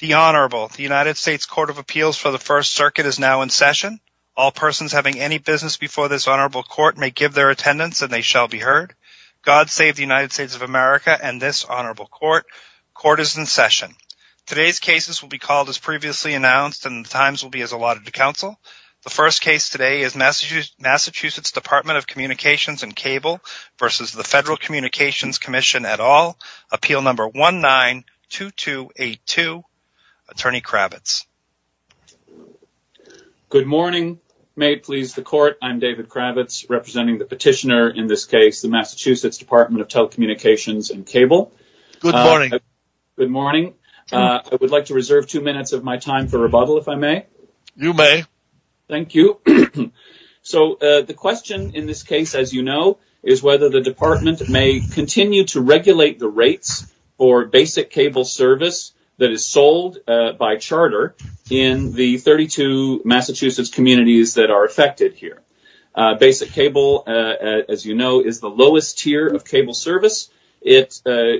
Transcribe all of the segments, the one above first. The Honorable, the United States Court of Appeals for the First Circuit is now in session. All persons having any business before this Honorable Court may give their attendance and they shall be heard. God save the United States of America and this Honorable Court. Court is in session. Today's cases will be called as previously announced and the times will be as allotted to counsel. The first case today is Massachusetts Dept. of Communications & Cable v. the Federal Communications Commission et al. Appeal No. 192282, Attorney Kravitz. Good morning. May it please the Court, I'm David Kravitz representing the petitioner in this case, the Massachusetts Dept. of Telecommunications & Cable. Good morning. Good morning. I would like to reserve two minutes of my time for rebuttal if I may. You may. Thank you. So the question in this case, as you know, is whether the Department may continue to regulate the rates for basic cable service that is sold by charter in the 32 Massachusetts communities that are affected here. Basic cable, as you know, is the lowest tier of cable service. It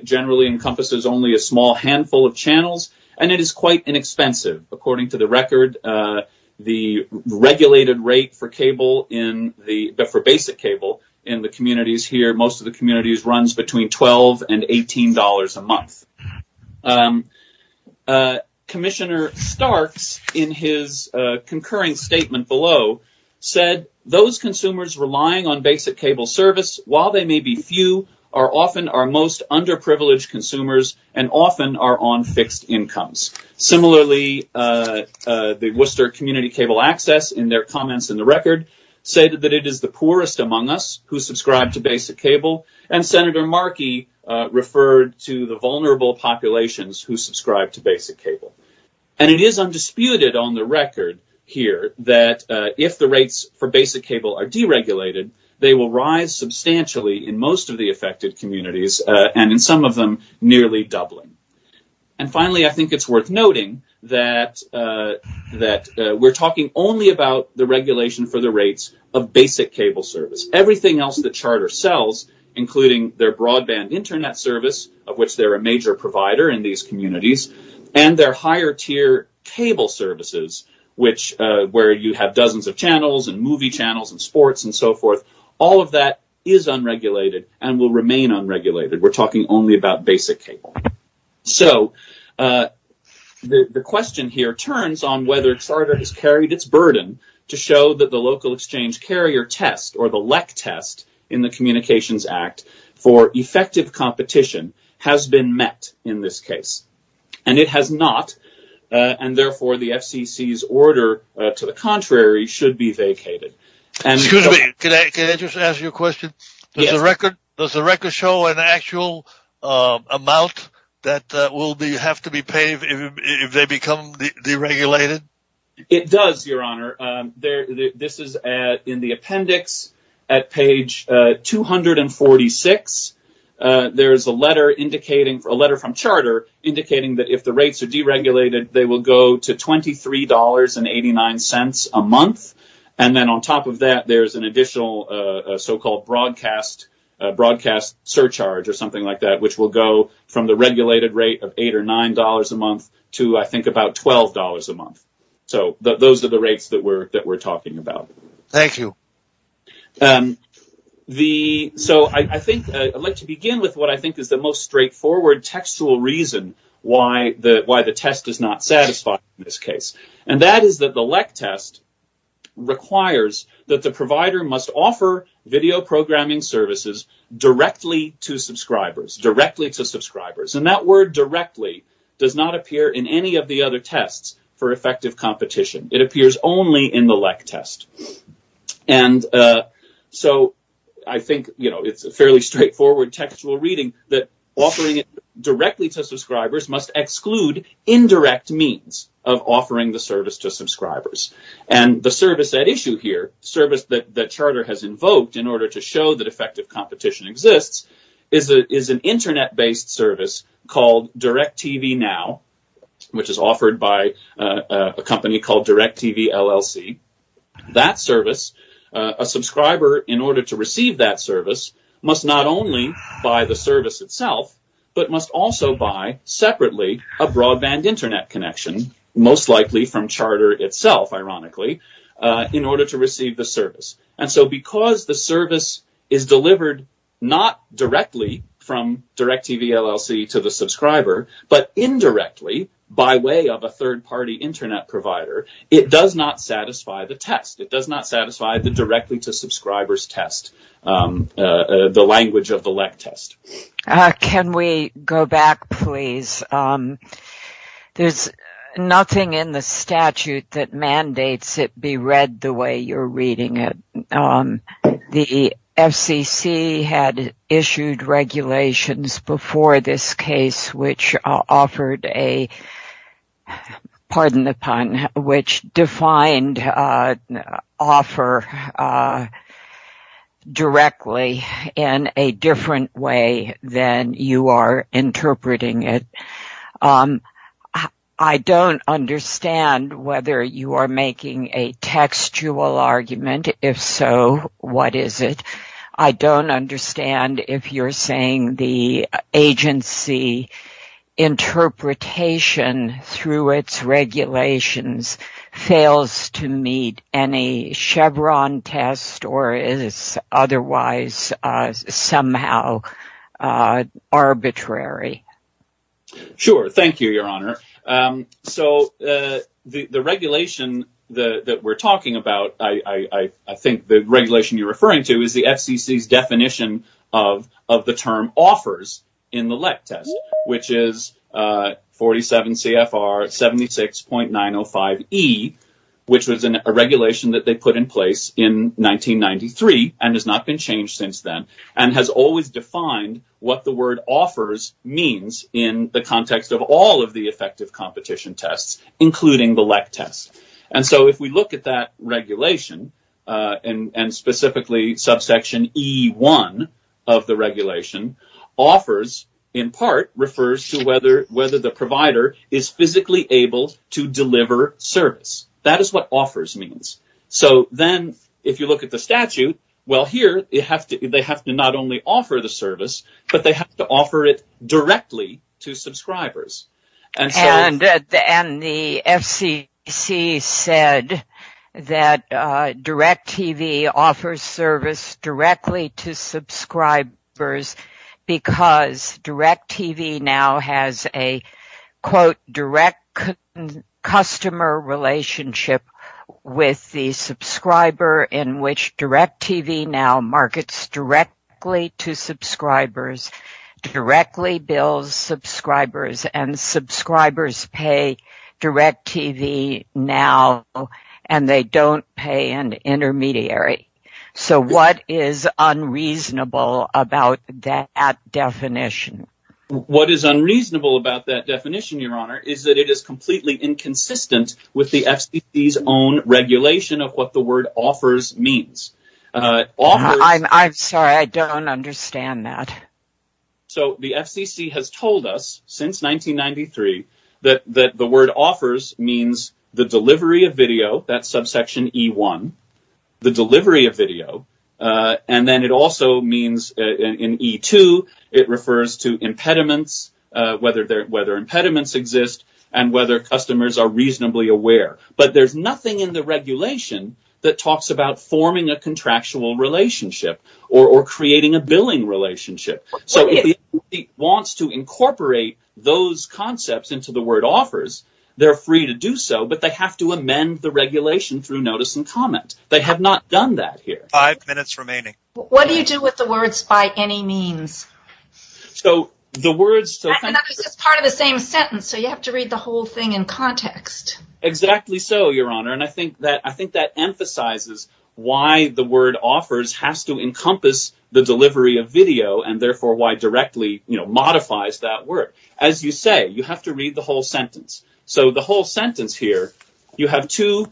generally encompasses only a small handful of channels and it is quite inexpensive. According to the record, the regulated rate for basic cable in the communities here, most of the communities, runs between $12 and $18 a month. Commissioner Starks, in his concurring statement below, said those consumers relying on basic cable service, while they may be few, are often our most underprivileged consumers and often are on fixed incomes. Similarly, the Worcester Community Cable Access, in their comments in the record, said that it is the poorest among us who subscribe to basic cable. And Senator Markey referred to the vulnerable populations who subscribe to basic cable. And it is undisputed on the record here that if the rates for basic cable are deregulated, they will rise substantially in most of the affected communities and, in some of them, nearly doubling. And finally, I think it's worth noting that we're talking only about the regulation for the rates of basic cable service. Everything else the charter sells, including their broadband internet service, of which they're a major provider in these communities, and their higher tier cable services, where you have dozens of channels and movie channels and sports and so forth, all of that is unregulated and will remain unregulated. We're talking only about basic cable. So the question here turns on whether charter has carried its burden to show that the local exchange carrier test or the LEC test in the Communications Act for effective competition has been met in this case. And it has not, and therefore the FCC's order to the contrary should be vacated. Excuse me, can I just ask you a question? Yes. Does the record show an actual amount that will have to be paid if they become deregulated? It does, Your Honor. This is in the appendix at page 246. There is a letter from charter indicating that if the rates are deregulated, they will go to $23.89 a month. And then on top of that, there's an additional so-called broadcast surcharge or something like that, which will go from the regulated rate of $8 or $9 a month to, I think, about $12 a month. So those are the rates that we're talking about. Thank you. So I think I'd like to begin with what I think is the most straightforward textual reason why the test is not satisfied in this case. And that is that the LEC test requires that the provider must offer video programming services directly to subscribers. Directly to subscribers. And that word directly does not appear in any of the other tests for effective competition. It appears only in the LEC test. And so I think it's a fairly straightforward textual reading that offering it directly to subscribers must exclude indirect means of offering the service to subscribers. And the service at issue here, service that the charter has invoked in order to show that effective competition exists, is an Internet-based service called Direct TV Now, which is offered by a company called Direct TV LLC. That service, a subscriber, in order to receive that service, must not only buy the service itself, but must also buy, separately, a broadband Internet connection, most likely from charter itself, ironically, in order to receive the service. And so because the service is delivered not directly from Direct TV LLC to the subscriber, but indirectly, by way of a third-party Internet provider, it does not satisfy the test. It does not satisfy the directly-to-subscribers test, the language of the LEC test. Can we go back, please? There's nothing in the statute that mandates it be read the way you're reading it. The FCC had issued regulations before this case which offered a, pardon the pun, which defined offer directly in a different way than you are interpreting it. I don't understand whether you are making a textual argument. If so, what is it? I don't understand if you're saying the agency interpretation through its regulations fails to meet any Chevron test or is otherwise somehow arbitrary. Sure. Thank you, Your Honor. So the regulation that we're talking about, I think the regulation you're referring to, is the FCC's definition of the term offers in the LEC test, which is 47 CFR 76.905E, which was a regulation that they put in place in 1993 and has not been changed since then, and has always defined what the word offers means in the context of all of the effective competition tests, including the LEC test. And so if we look at that regulation, and specifically subsection E1 of the regulation, offers in part refers to whether the provider is physically able to deliver service. That is what offers means. So then if you look at the statute, well here they have to not only offer the service, but they have to offer it directly to subscribers. And the FCC said that DirecTV offers service directly to subscribers because DirecTV now has a direct customer relationship with the subscriber in which DirecTV now markets directly to subscribers, directly bills subscribers, and subscribers pay DirecTV now and they don't pay an intermediary. So what is unreasonable about that definition? What is unreasonable about that definition, Your Honor, is that it is completely inconsistent with the FCC's own regulation of what the word offers means. I'm sorry, I don't understand that. So the FCC has told us since 1993 that the word offers means the delivery of video, that's subsection E1, the delivery of video. And then it also means in E2, it refers to impediments, whether impediments exist and whether customers are reasonably aware. But there's nothing in the regulation that talks about forming a contractual relationship or creating a billing relationship. So if the FCC wants to incorporate those concepts into the word offers, they're free to do so, but they have to amend the regulation through notice and comment. They have not done that here. Five minutes remaining. What do you do with the words by any means? So the words… It's part of the same sentence, so you have to read the whole thing in context. Exactly so, Your Honor, and I think that emphasizes why the word offers has to encompass the delivery of video and therefore why directly modifies that word. As you say, you have to read the whole sentence. So the whole sentence here, you have two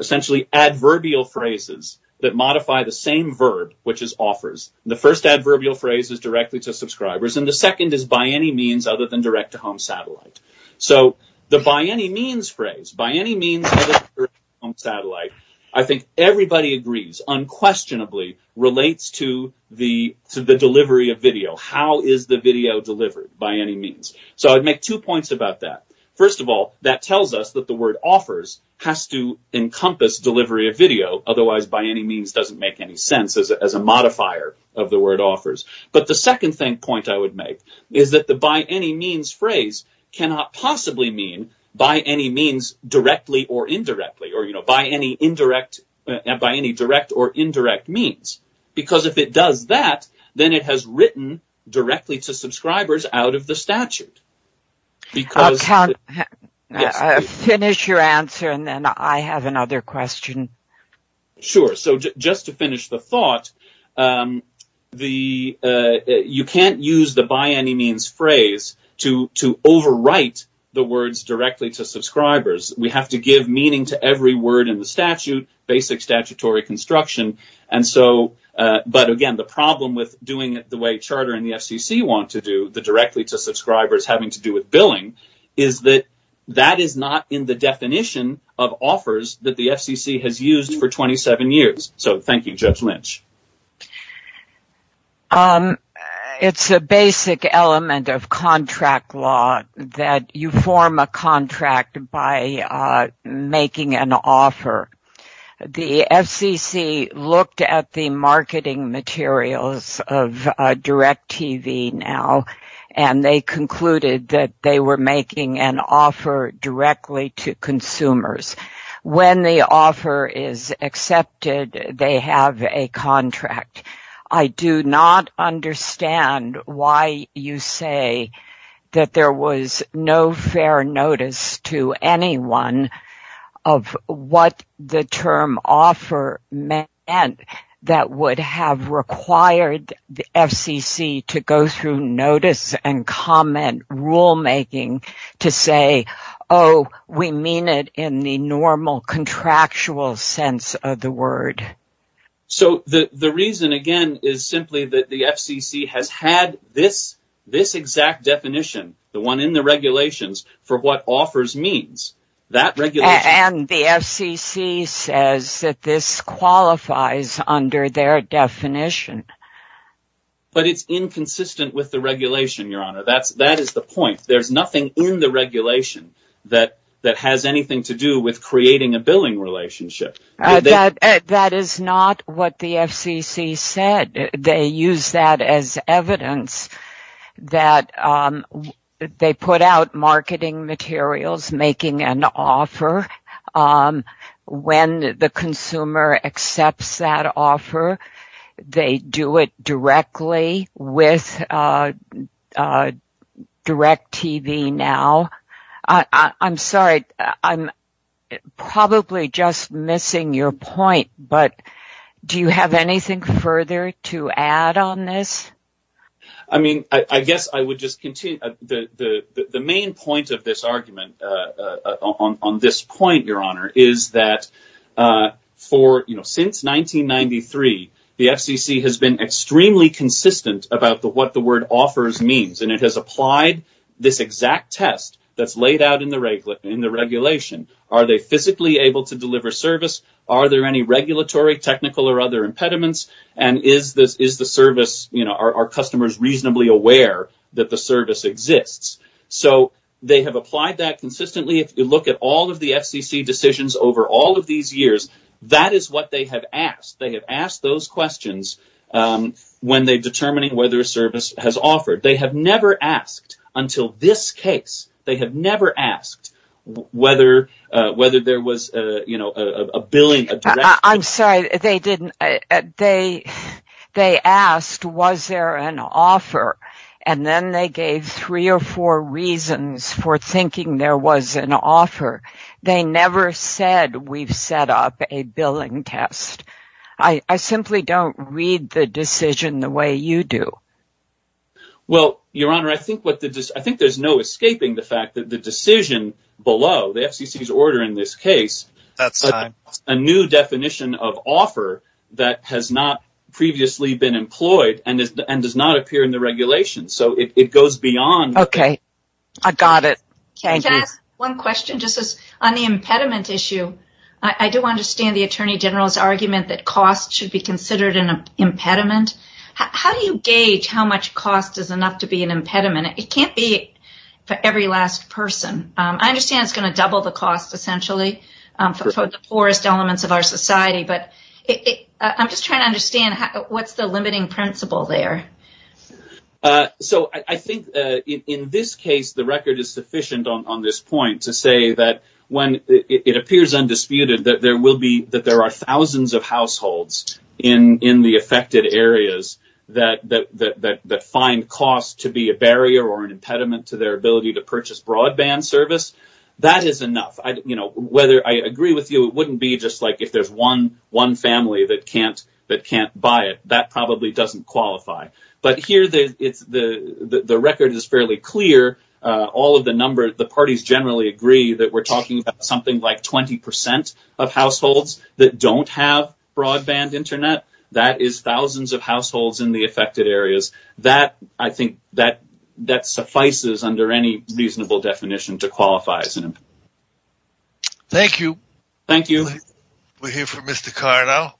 essentially adverbial phrases that modify the same verb, which is offers. The first adverbial phrase is directly to subscribers, and the second is by any means other than direct-to-home satellite. So the by any means phrase, by any means other than direct-to-home satellite, I think everybody agrees unquestionably relates to the delivery of video. How is the video delivered by any means? So I'd make two points about that. First of all, that tells us that the word offers has to encompass delivery of video. Otherwise, by any means doesn't make any sense as a modifier of the word offers. But the second point I would make is that the by any means phrase cannot possibly mean by any means directly or indirectly, or by any direct or indirect means. Because if it does that, then it has written directly to subscribers out of the statute. I'll finish your answer and then I have another question. Sure. So just to finish the thought, you can't use the by any means phrase to overwrite the words directly to subscribers. We have to give meaning to every word in the statute, basic statutory construction. But again, the problem with doing it the way charter and the FCC want to do, the directly to subscribers having to do with billing, is that that is not in the definition of offers that the FCC has used for 27 years. So thank you, Judge Lynch. It's a basic element of contract law that you form a contract by making an offer. The FCC looked at the marketing materials of DirecTV now, and they concluded that they were making an offer directly to consumers. When the offer is accepted, they have a contract. I do not understand why you say that there was no fair notice to anyone of what the term offer meant that would have required the FCC to go through notice and comment rulemaking to say, oh, we mean it in the normal contractual sense of the word. So the reason, again, is simply that the FCC has had this exact definition, the one in the regulations, for what offers means. And the FCC says that this qualifies under their definition. But it's inconsistent with the regulation, Your Honor. That is the point. There's nothing in the regulation that has anything to do with creating a billing relationship. That is not what the FCC said. They used that as evidence that they put out marketing materials making an offer. When the consumer accepts that offer, they do it directly with DirecTV now. I'm sorry, I'm probably just missing your point, but do you have anything further to add on this? Are they physically able to deliver service? Are there any regulatory, technical, or other impediments? And are customers reasonably aware that the service exists? So they have applied that consistently. If you look at all of the FCC decisions over all of these years, that is what they have asked. They have asked those questions when they're determining whether a service has offered. They have never asked until this case, they have never asked whether there was a billing. I'm sorry, they didn't. They asked, was there an offer? And then they gave three or four reasons for thinking there was an offer. They never said, we've set up a billing test. I simply don't read the decision the way you do. Well, Your Honor, I think there's no escaping the fact that the decision below, the FCC's order in this case, a new definition of offer that has not previously been employed and does not appear in the regulations. So it goes beyond that. Okay, I got it. Can I ask one question just on the impediment issue? I do understand the Attorney General's argument that cost should be considered an impediment. How do you gauge how much cost is enough to be an impediment? It can't be for every last person. I understand it's going to double the cost, essentially, for the poorest elements of our society. But I'm just trying to understand, what's the limiting principle there? So I think in this case, the record is sufficient on this point to say that when it appears undisputed, that there are thousands of households in the affected areas that find cost to be a barrier or an impediment to their ability to purchase broadband service. That is enough. I agree with you, it wouldn't be just like if there's one family that can't buy it. That probably doesn't qualify. But here, the record is fairly clear. All of the numbers, the parties generally agree that we're talking about something like 20% of households that don't have broadband internet. That is thousands of households in the affected areas. That, I think, that suffices under any reasonable definition to qualify as an impediment. Thank you. Thank you. We'll hear from Mr. Carr now.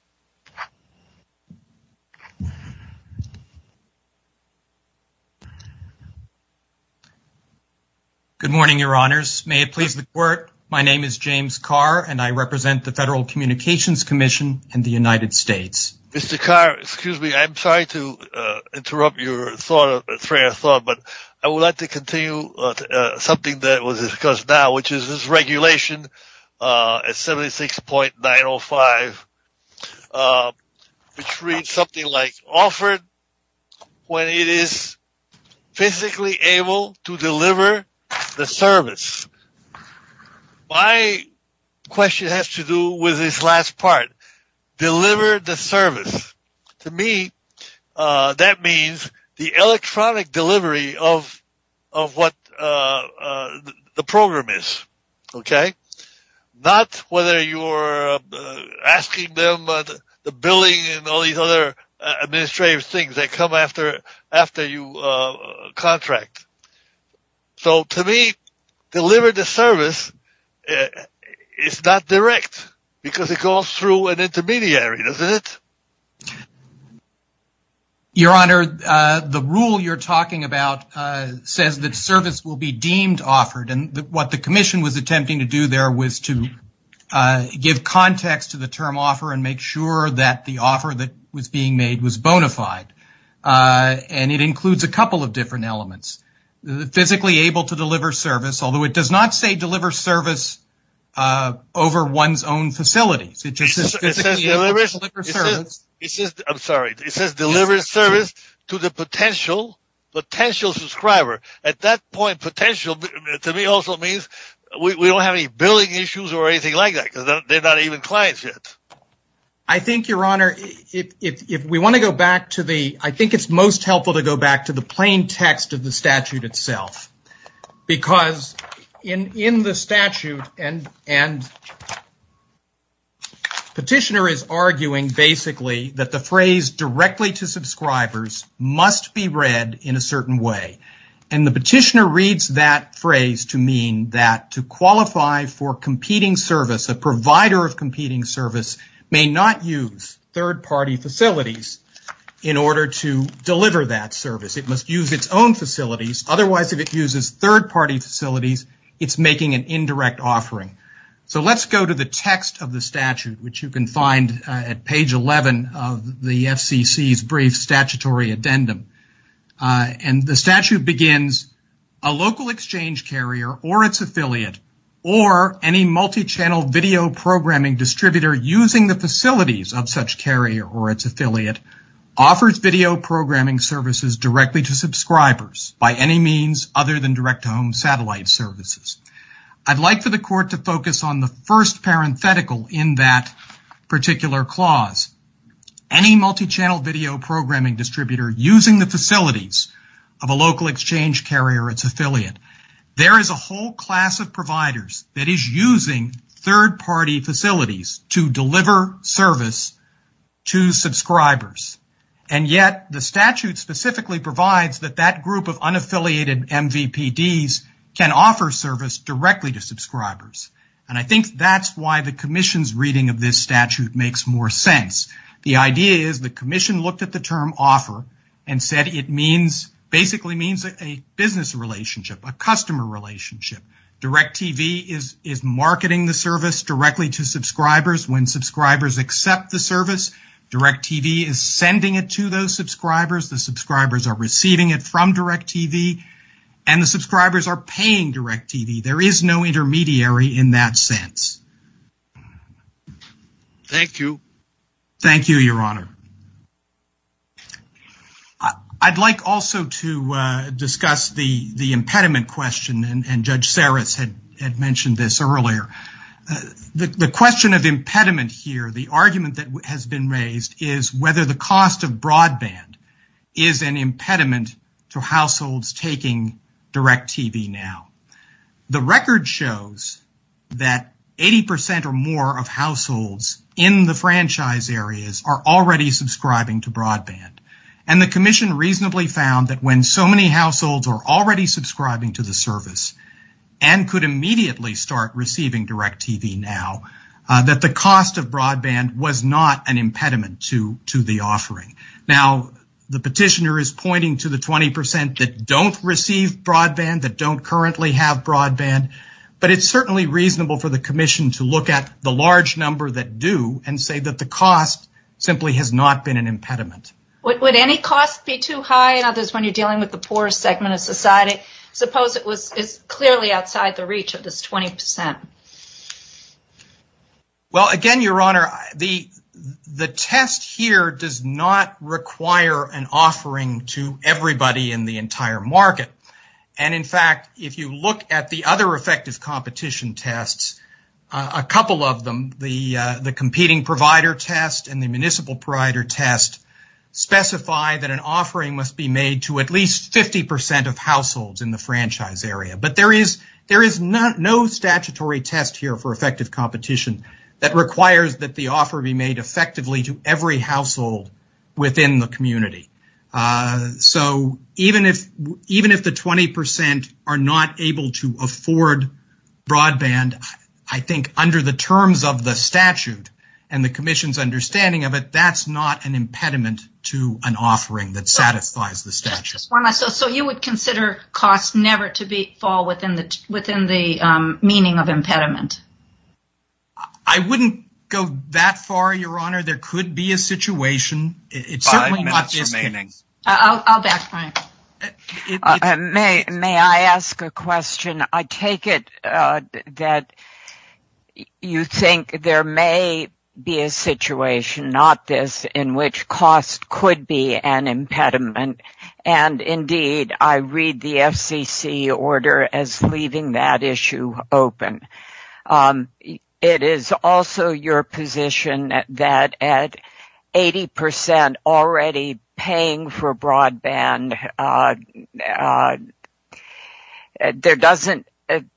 Good morning, Your Honors. May it please the Court, my name is James Carr, and I represent the Federal Communications Commission in the United States. Mr. Carr, excuse me, I'm sorry to interrupt your train of thought, but I would like to continue something that was discussed now, which is this regulation 76.905, which reads something like, offered when it is physically able to deliver the service. My question has to do with this last part, deliver the service. To me, that means the electronic delivery of what the program is, okay? Not whether you're asking them, the billing, and all these other administrative things that come after you contract. So, to me, deliver the service is not direct, because it goes through an intermediary, doesn't it? Your Honor, the rule you're talking about says that service will be deemed offered, and what the commission was attempting to do there was to give context to the term offer and make sure that the offer that was being made was bona fide. And it includes a couple of different elements. Physically able to deliver service, although it does not say deliver service over one's own facilities. It says deliver service to the potential subscriber. At that point, potential to me also means we don't have any billing issues or anything like that, because they're not even clients yet. I think, Your Honor, if we want to go back to the, I think it's most helpful to go back to the plain text of the statute itself. Because in the statute, and petitioner is arguing, basically, that the phrase directly to subscribers must be read in a certain way. And the petitioner reads that phrase to mean that to qualify for competing service, a provider of competing service may not use third-party facilities in order to deliver that service. It must use its own facilities. Otherwise, if it uses third-party facilities, it's making an indirect offering. So let's go to the text of the statute, which you can find at page 11 of the FCC's brief statutory addendum. And the statute begins, a local exchange carrier or its affiliate, or any multi-channel video programming distributor using the facilities of such carrier or its affiliate, offers video programming services directly to subscribers by any means other than direct-to-home satellite services. I'd like for the court to focus on the first parenthetical in that particular clause. Any multi-channel video programming distributor using the facilities of a local exchange carrier or its affiliate. There is a whole class of providers that is using third-party facilities to deliver service to subscribers. And yet, the statute specifically provides that that group of unaffiliated MVPDs can offer service directly to subscribers. And I think that's why the commission's reading of this statute makes more sense. The idea is the commission looked at the term offer and said it basically means a business relationship, a customer relationship. DirecTV is marketing the service directly to subscribers. When subscribers accept the service, DirecTV is sending it to those subscribers. The subscribers are receiving it from DirecTV, and the subscribers are paying DirecTV. There is no intermediary in that sense. Thank you. Thank you, Your Honor. I'd like also to discuss the impediment question, and Judge Saras had mentioned this earlier. The question of impediment here, the argument that has been raised, is whether the cost of broadband is an impediment to households taking DirecTV now. The record shows that 80% or more of households in the franchise areas are already subscribing to broadband, and the commission reasonably found that when so many households are already subscribing to the service and could immediately start receiving DirecTV now, that the cost of broadband was not an impediment to the offering. Now, the petitioner is pointing to the 20% that don't receive broadband, that don't currently have broadband, but it's certainly reasonable for the commission to look at the large number that do and say that the cost simply has not been an impediment. Would any cost be too high? It may not be when you're dealing with the poorest segment of society. Suppose it's clearly outside the reach of this 20%. Well, again, Your Honor, the test here does not require an offering to everybody in the entire market. In fact, if you look at the other effective competition tests, a couple of them, the competing provider test and the municipal provider test, specify that an offering must be made to at least 50% of households in the franchise area. But there is no statutory test here for effective competition that requires that the offer be made effectively to every household within the community. So even if the 20% are not able to afford broadband, I think under the terms of the statute and the commission's understanding of it, that's not an impediment to an offering that satisfies the statute. So you would consider cost never to fall within the meaning of impediment? I wouldn't go that far, Your Honor. Your Honor, there could be a situation. I'll backfire. May I ask a question? I take it that you think there may be a situation, not this, in which cost could be an impediment. And, indeed, I read the FCC order as leaving that issue open. It is also your position that at 80% already paying for broadband,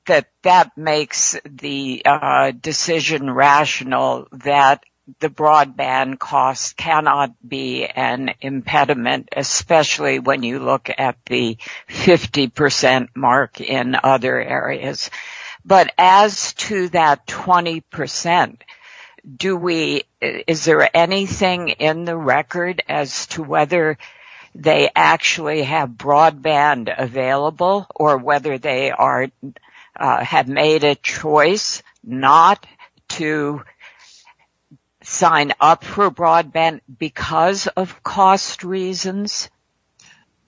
that that makes the decision rational that the broadband cost cannot be an impediment, especially when you look at the 50% mark in other areas. But as to that 20%, is there anything in the record as to whether they actually have broadband available or whether they have made a choice not to sign up for broadband because of cost reasons?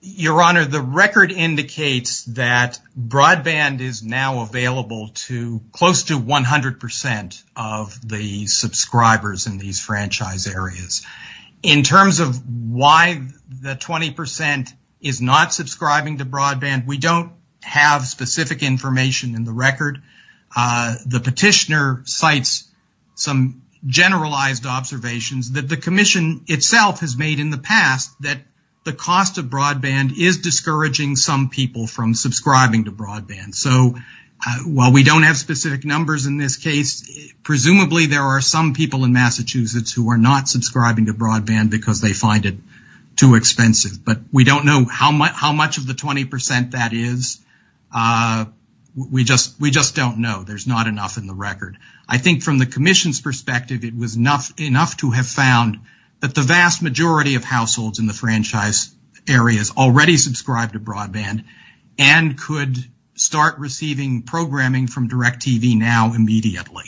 Your Honor, the record indicates that broadband is now available to close to 100% of the subscribers in these franchise areas. In terms of why the 20% is not subscribing to broadband, we don't have specific information in the record. The petitioner cites some generalized observations that the commission itself has made in the past that the cost of broadband is discouraging some people from subscribing to broadband. So while we don't have specific numbers in this case, presumably there are some people in Massachusetts who are not subscribing to broadband because they find it too expensive. But we don't know how much of the 20% that is. We just don't know. There's not enough in the record. I think from the commission's perspective, it was enough to have found that the vast majority of households in the franchise areas already subscribe to broadband and could start receiving programming from DirecTV now immediately.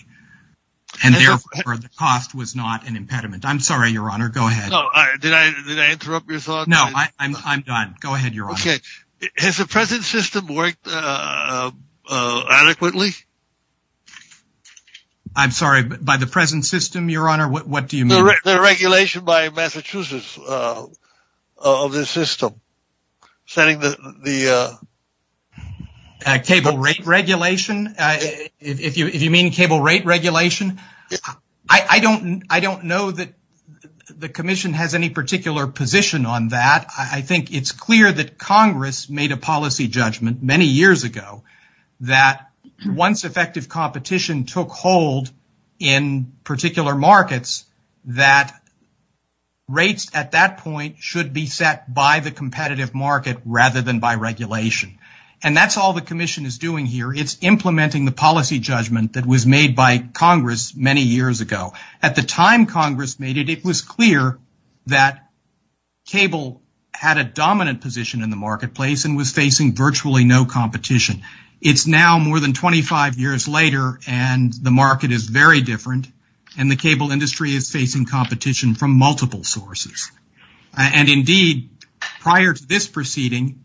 And therefore, the cost was not an impediment. I'm sorry, Your Honor. Go ahead. Did I interrupt your thought? No, I'm done. Go ahead, Your Honor. Okay. Has the present system worked adequately? I'm sorry, by the present system, Your Honor, what do you mean? The regulation by Massachusetts of the system. Cable rate regulation? If you mean cable rate regulation? I don't know that the commission has any particular position on that. But I think it's clear that Congress made a policy judgment many years ago that once effective competition took hold in particular markets, that rates at that point should be set by the competitive market rather than by regulation. And that's all the commission is doing here. It's implementing the policy judgment that was made by Congress many years ago. At the time Congress made it, it was clear that cable had a dominant position in the marketplace and was facing virtually no competition. It's now more than 25 years later, and the market is very different, and the cable industry is facing competition from multiple sources. And, indeed, prior to this proceeding,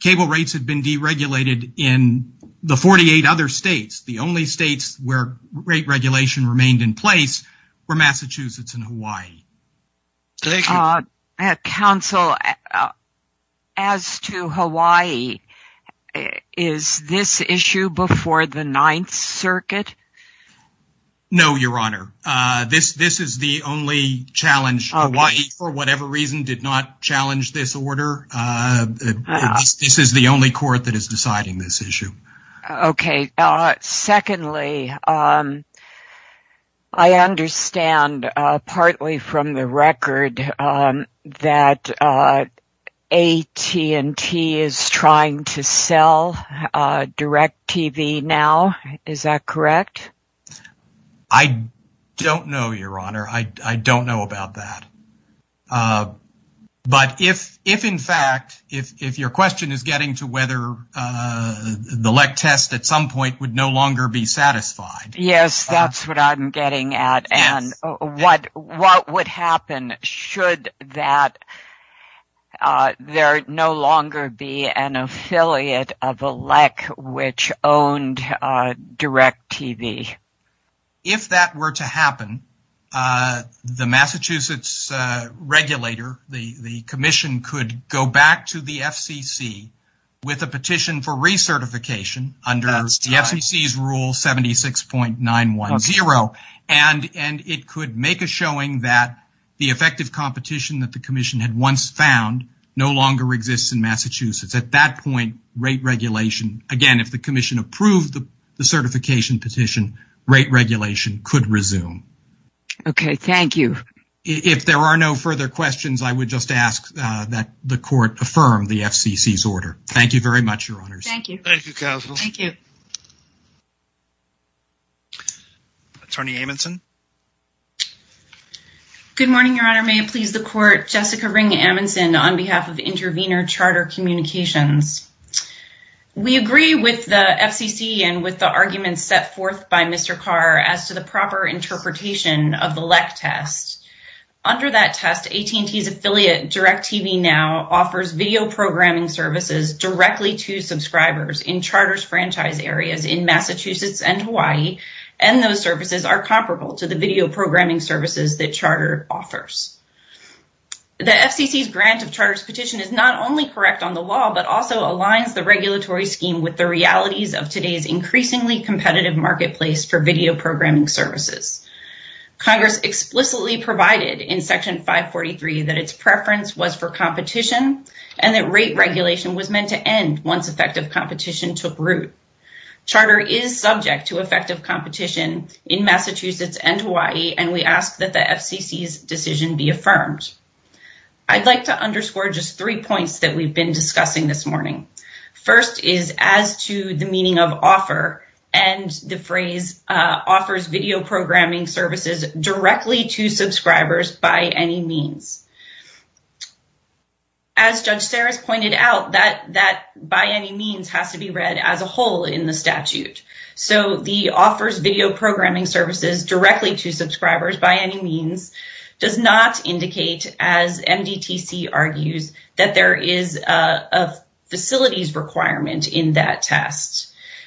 cable rates had been deregulated in the 48 other states, the only states where rate regulation remained in place were Massachusetts and Hawaii. Counsel, as to Hawaii, is this issue before the Ninth Circuit? No, Your Honor. This is the only challenge. Hawaii, for whatever reason, did not challenge this order. This is the only court that is deciding this issue. Okay. Secondly, I understand partly from the record that AT&T is trying to sell DirecTV now. Is that correct? I don't know, Your Honor. I don't know about that. But if, in fact, if your question is getting to whether the LEC test at some point would no longer be satisfied. Yes, that's what I'm getting at. And what would happen should that there no longer be an affiliate of a LEC which owned DirecTV? If that were to happen, the Massachusetts regulator, the commission could go back to the FCC with a petition for recertification under the FCC's rule 76.910. And it could make a showing that the effective competition that the commission had once found no longer exists in Massachusetts. At that point, rate regulation, again, if the commission approved the certification petition, rate regulation could resume. Okay. Thank you. If there are no further questions, I would just ask that the court affirm the FCC's order. Thank you very much, Your Honors. Thank you. Thank you, counsel. Thank you. Attorney Amundson. Good morning, Your Honor. May it please the court. Jessica Ring Amundson on behalf of Intervenor Charter Communications. We agree with the FCC and with the arguments set forth by Mr. Carr as to the proper interpretation of the LEC test. Under that test, AT&T's affiliate, DirecTV Now, offers video programming services directly to subscribers in charter's franchise areas in Massachusetts and Hawaii. And those services are comparable to the video programming services that charter offers. The FCC's grant of charter's petition is not only correct on the law, but also aligns the regulatory scheme with the realities of today's increasingly competitive marketplace for video programming services. Congress explicitly provided in Section 543 that its preference was for competition and that rate regulation was meant to end once effective competition took root. Charter is subject to effective competition in Massachusetts and Hawaii, and we ask that the FCC's decision be affirmed. I'd like to underscore just three points that we've been discussing this morning. First is as to the meaning of offer, and the phrase offers video programming services directly to subscribers by any means. As Judge Sarris pointed out, that by any means has to be read as a whole in the statute. So the offers video programming services directly to subscribers by any means does not indicate, as MDTC argues, that there is a facilities requirement in that test.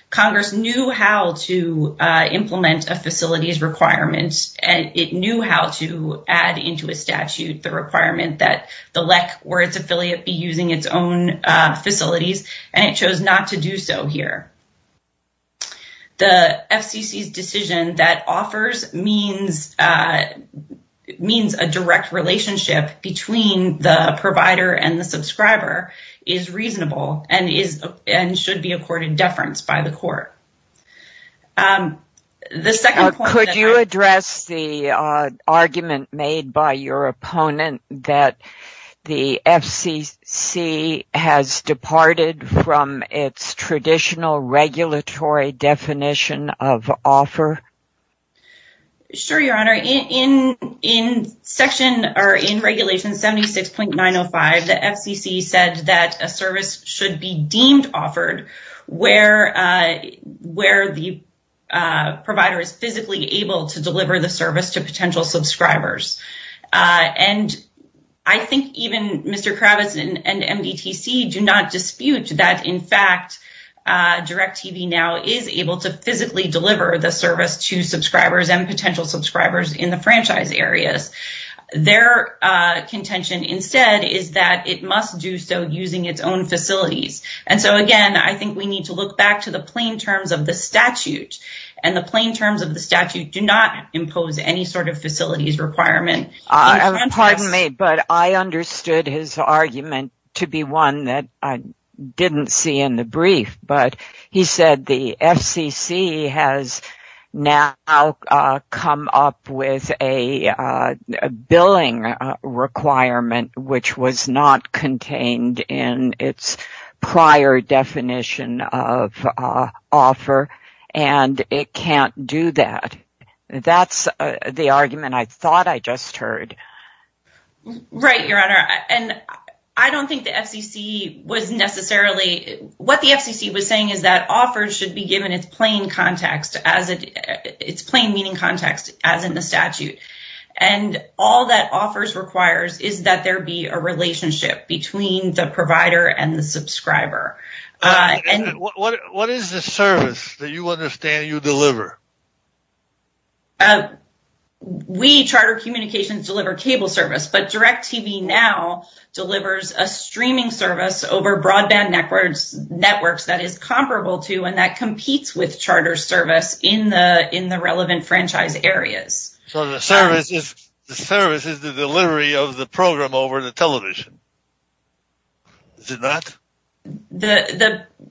Congress knew how to implement a facilities requirement, and it knew how to add into a statute the requirement that the LEC or its affiliate be using its own facilities, and it chose not to do so here. The FCC's decision that offers means a direct relationship between the provider and the subscriber is reasonable and should be accorded deference by the court. Could you address the argument made by your opponent that the FCC has departed from its traditional regulatory definition of offer? Sure, Your Honor. In section or in regulation 76.905, the FCC said that a service should be deemed offered where the provider is physically able to deliver the service to potential subscribers. And I think even Mr. Kravitz and MDTC do not dispute that, in fact, DirecTV now is able to physically deliver the service to subscribers and potential subscribers in the franchise areas. Their contention instead is that it must do so using its own facilities. And so, again, I think we need to look back to the plain terms of the statute, and the plain terms of the statute do not impose any sort of facilities requirement. Pardon me, but I understood his argument to be one that I didn't see in the brief, but he said the FCC has now come up with a billing requirement which was not contained in its prior definition of offer, and it can't do that. That's the argument I thought I just heard. Right, Your Honor. And I don't think the FCC was necessarily – what the FCC was saying is that offers should be given its plain meaning context as in the statute. And all that offers requires is that there be a relationship between the provider and the subscriber. What is the service that you understand you deliver? We, Charter Communications, deliver cable service, but DirecTV now delivers a streaming service over broadband networks that is comparable to and that competes with charter service in the relevant franchise areas. So the service is the delivery of the program over the television. Is it not?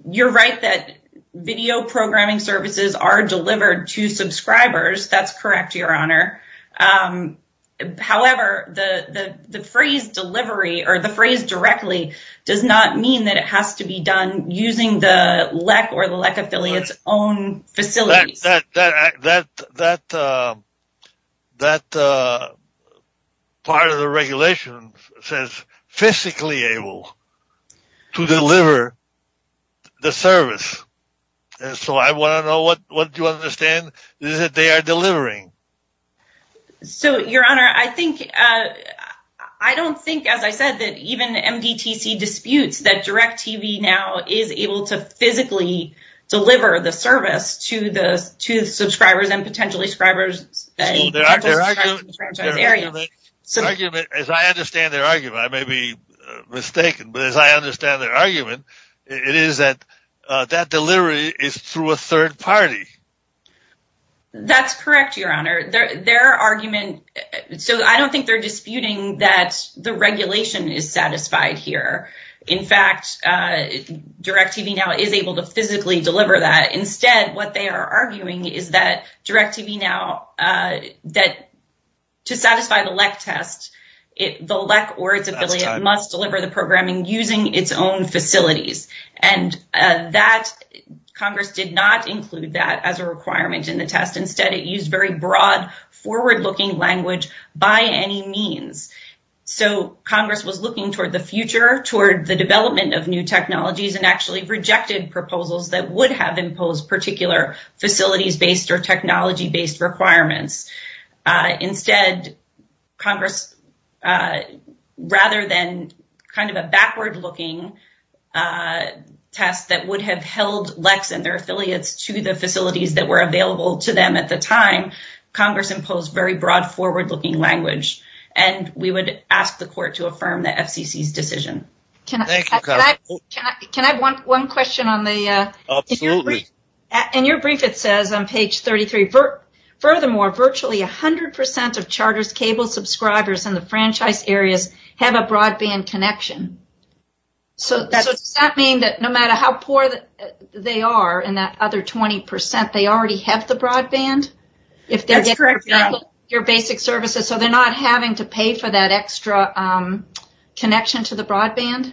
You're right that video programming services are delivered to subscribers. That's correct, Your Honor. However, the phrase directly does not mean that it has to be done using the LEC or the LEC affiliate's own facilities. That part of the regulation says physically able to deliver the service. So I want to know what you understand is that they are delivering. So, Your Honor, I think – I don't think, as I said, that even MDTC disputes that DirecTV now is able to physically deliver the service to the subscribers and potentially subscribers in the franchise area. As I understand their argument, I may be mistaken, but as I understand their argument, it is that that delivery is through a third party. That's correct, Your Honor. Their argument – so I don't think they're disputing that the regulation is satisfied here. In fact, DirecTV now is able to physically deliver that. Instead, what they are arguing is that DirecTV now – that to satisfy the LEC test, the LEC or its affiliate must deliver the programming using its own facilities. And that – Congress did not include that as a requirement in the test. Instead, it used very broad, forward-looking language by any means. So Congress was looking toward the future, toward the development of new technologies, and actually rejected proposals that would have imposed particular facilities-based or technology-based requirements. Instead, Congress – rather than kind of a backward-looking test that would have held LECs and their affiliates to the facilities that were available to them at the time, Congress imposed very broad, forward-looking language. And we would ask the court to affirm the FCC's decision. Thank you, counsel. Can I have one question on the – Absolutely. In your brief, it says on page 33, Furthermore, virtually 100% of Charter's cable subscribers in the franchise areas have a broadband connection. So does that mean that no matter how poor they are in that other 20%, they already have the broadband? That's correct, Your Honor. If they're getting your basic services, so they're not having to pay for that extra connection to the broadband?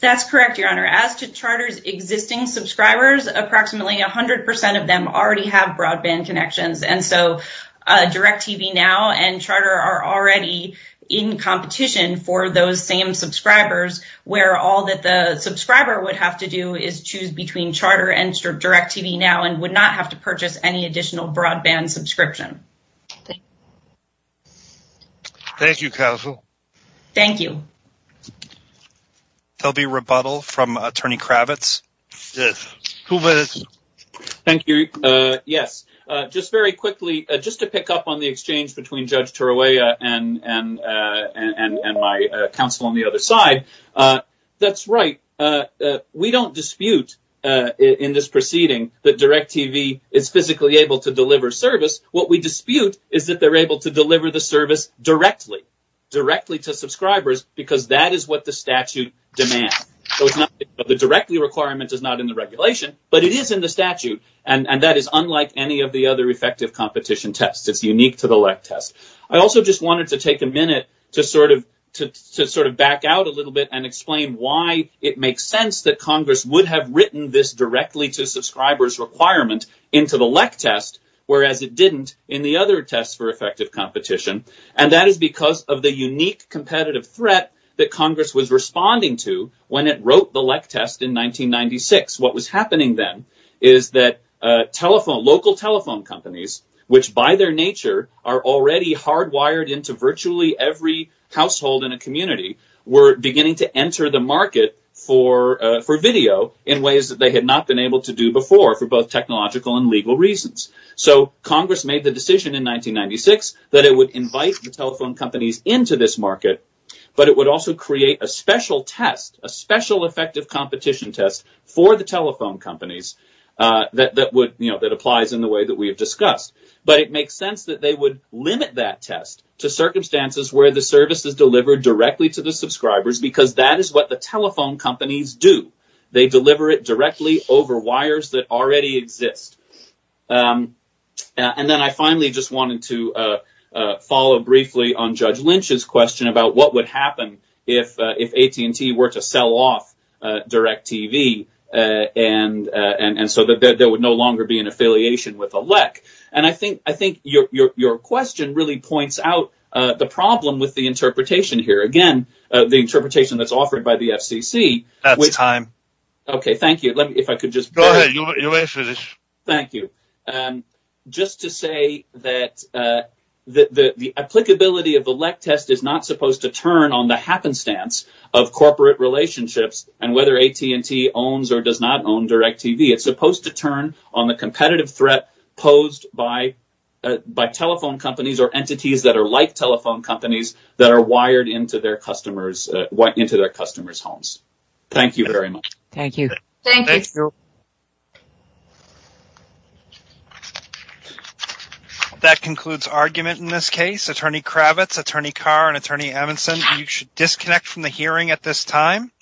That's correct, Your Honor. As to Charter's existing subscribers, approximately 100% of them already have broadband connections. And so Direct TV Now and Charter are already in competition for those same subscribers, where all that the subscriber would have to do is choose between Charter and Direct TV Now and would not have to purchase any additional broadband subscription. Thank you, counsel. Thank you. There will be a rebuttal from Attorney Kravitz. Yes. Thank you. Yes. Just very quickly, just to pick up on the exchange between Judge Tarroya and my counsel on the other side. That's right. We don't dispute in this proceeding that Direct TV is physically able to deliver service. What we dispute is that they're able to deliver the service directly, directly to subscribers, because that is what the statute demands. The directly requirement is not in the regulation, but it is in the statute, and that is unlike any of the other effective competition tests. It's unique to the LEC test. I also just wanted to take a minute to sort of back out a little bit and explain why it makes sense that Congress would have written this directly to subscribers requirement into the LEC test, whereas it didn't in the other tests for effective competition, and that is because of the unique competitive threat that Congress was responding to when it wrote the LEC test in 1996. What was happening then is that local telephone companies, which by their nature are already hardwired into virtually every household in a community, were beginning to enter the market for video in ways that they had not been able to do before for both technological and legal reasons. Congress made the decision in 1996 that it would invite the telephone companies into this market, but it would also create a special test, a special effective competition test for the telephone companies that applies in the way that we have discussed. It makes sense that they would limit that test to circumstances where the service is delivered directly to the subscribers, because that is what the telephone companies do. They deliver it directly over wires that already exist. Then I finally just wanted to follow briefly on Judge Lynch's question about what would happen if AT&T were to sell off DirecTV, and so that there would no longer be an affiliation with the LEC. I think your question really points out the problem with the interpretation here. Go ahead. You may finish. Thank you. Just to say that the applicability of the LEC test is not supposed to turn on the happenstance of corporate relationships and whether AT&T owns or does not own DirecTV. It is supposed to turn on the competitive threat posed by telephone companies or entities that are like telephone companies that are wired into their customers' homes. Thank you very much. Thank you. Thank you. That concludes argument in this case. Attorney Kravitz, Attorney Carr, and Attorney Evanston, you should disconnect from the hearing at this time.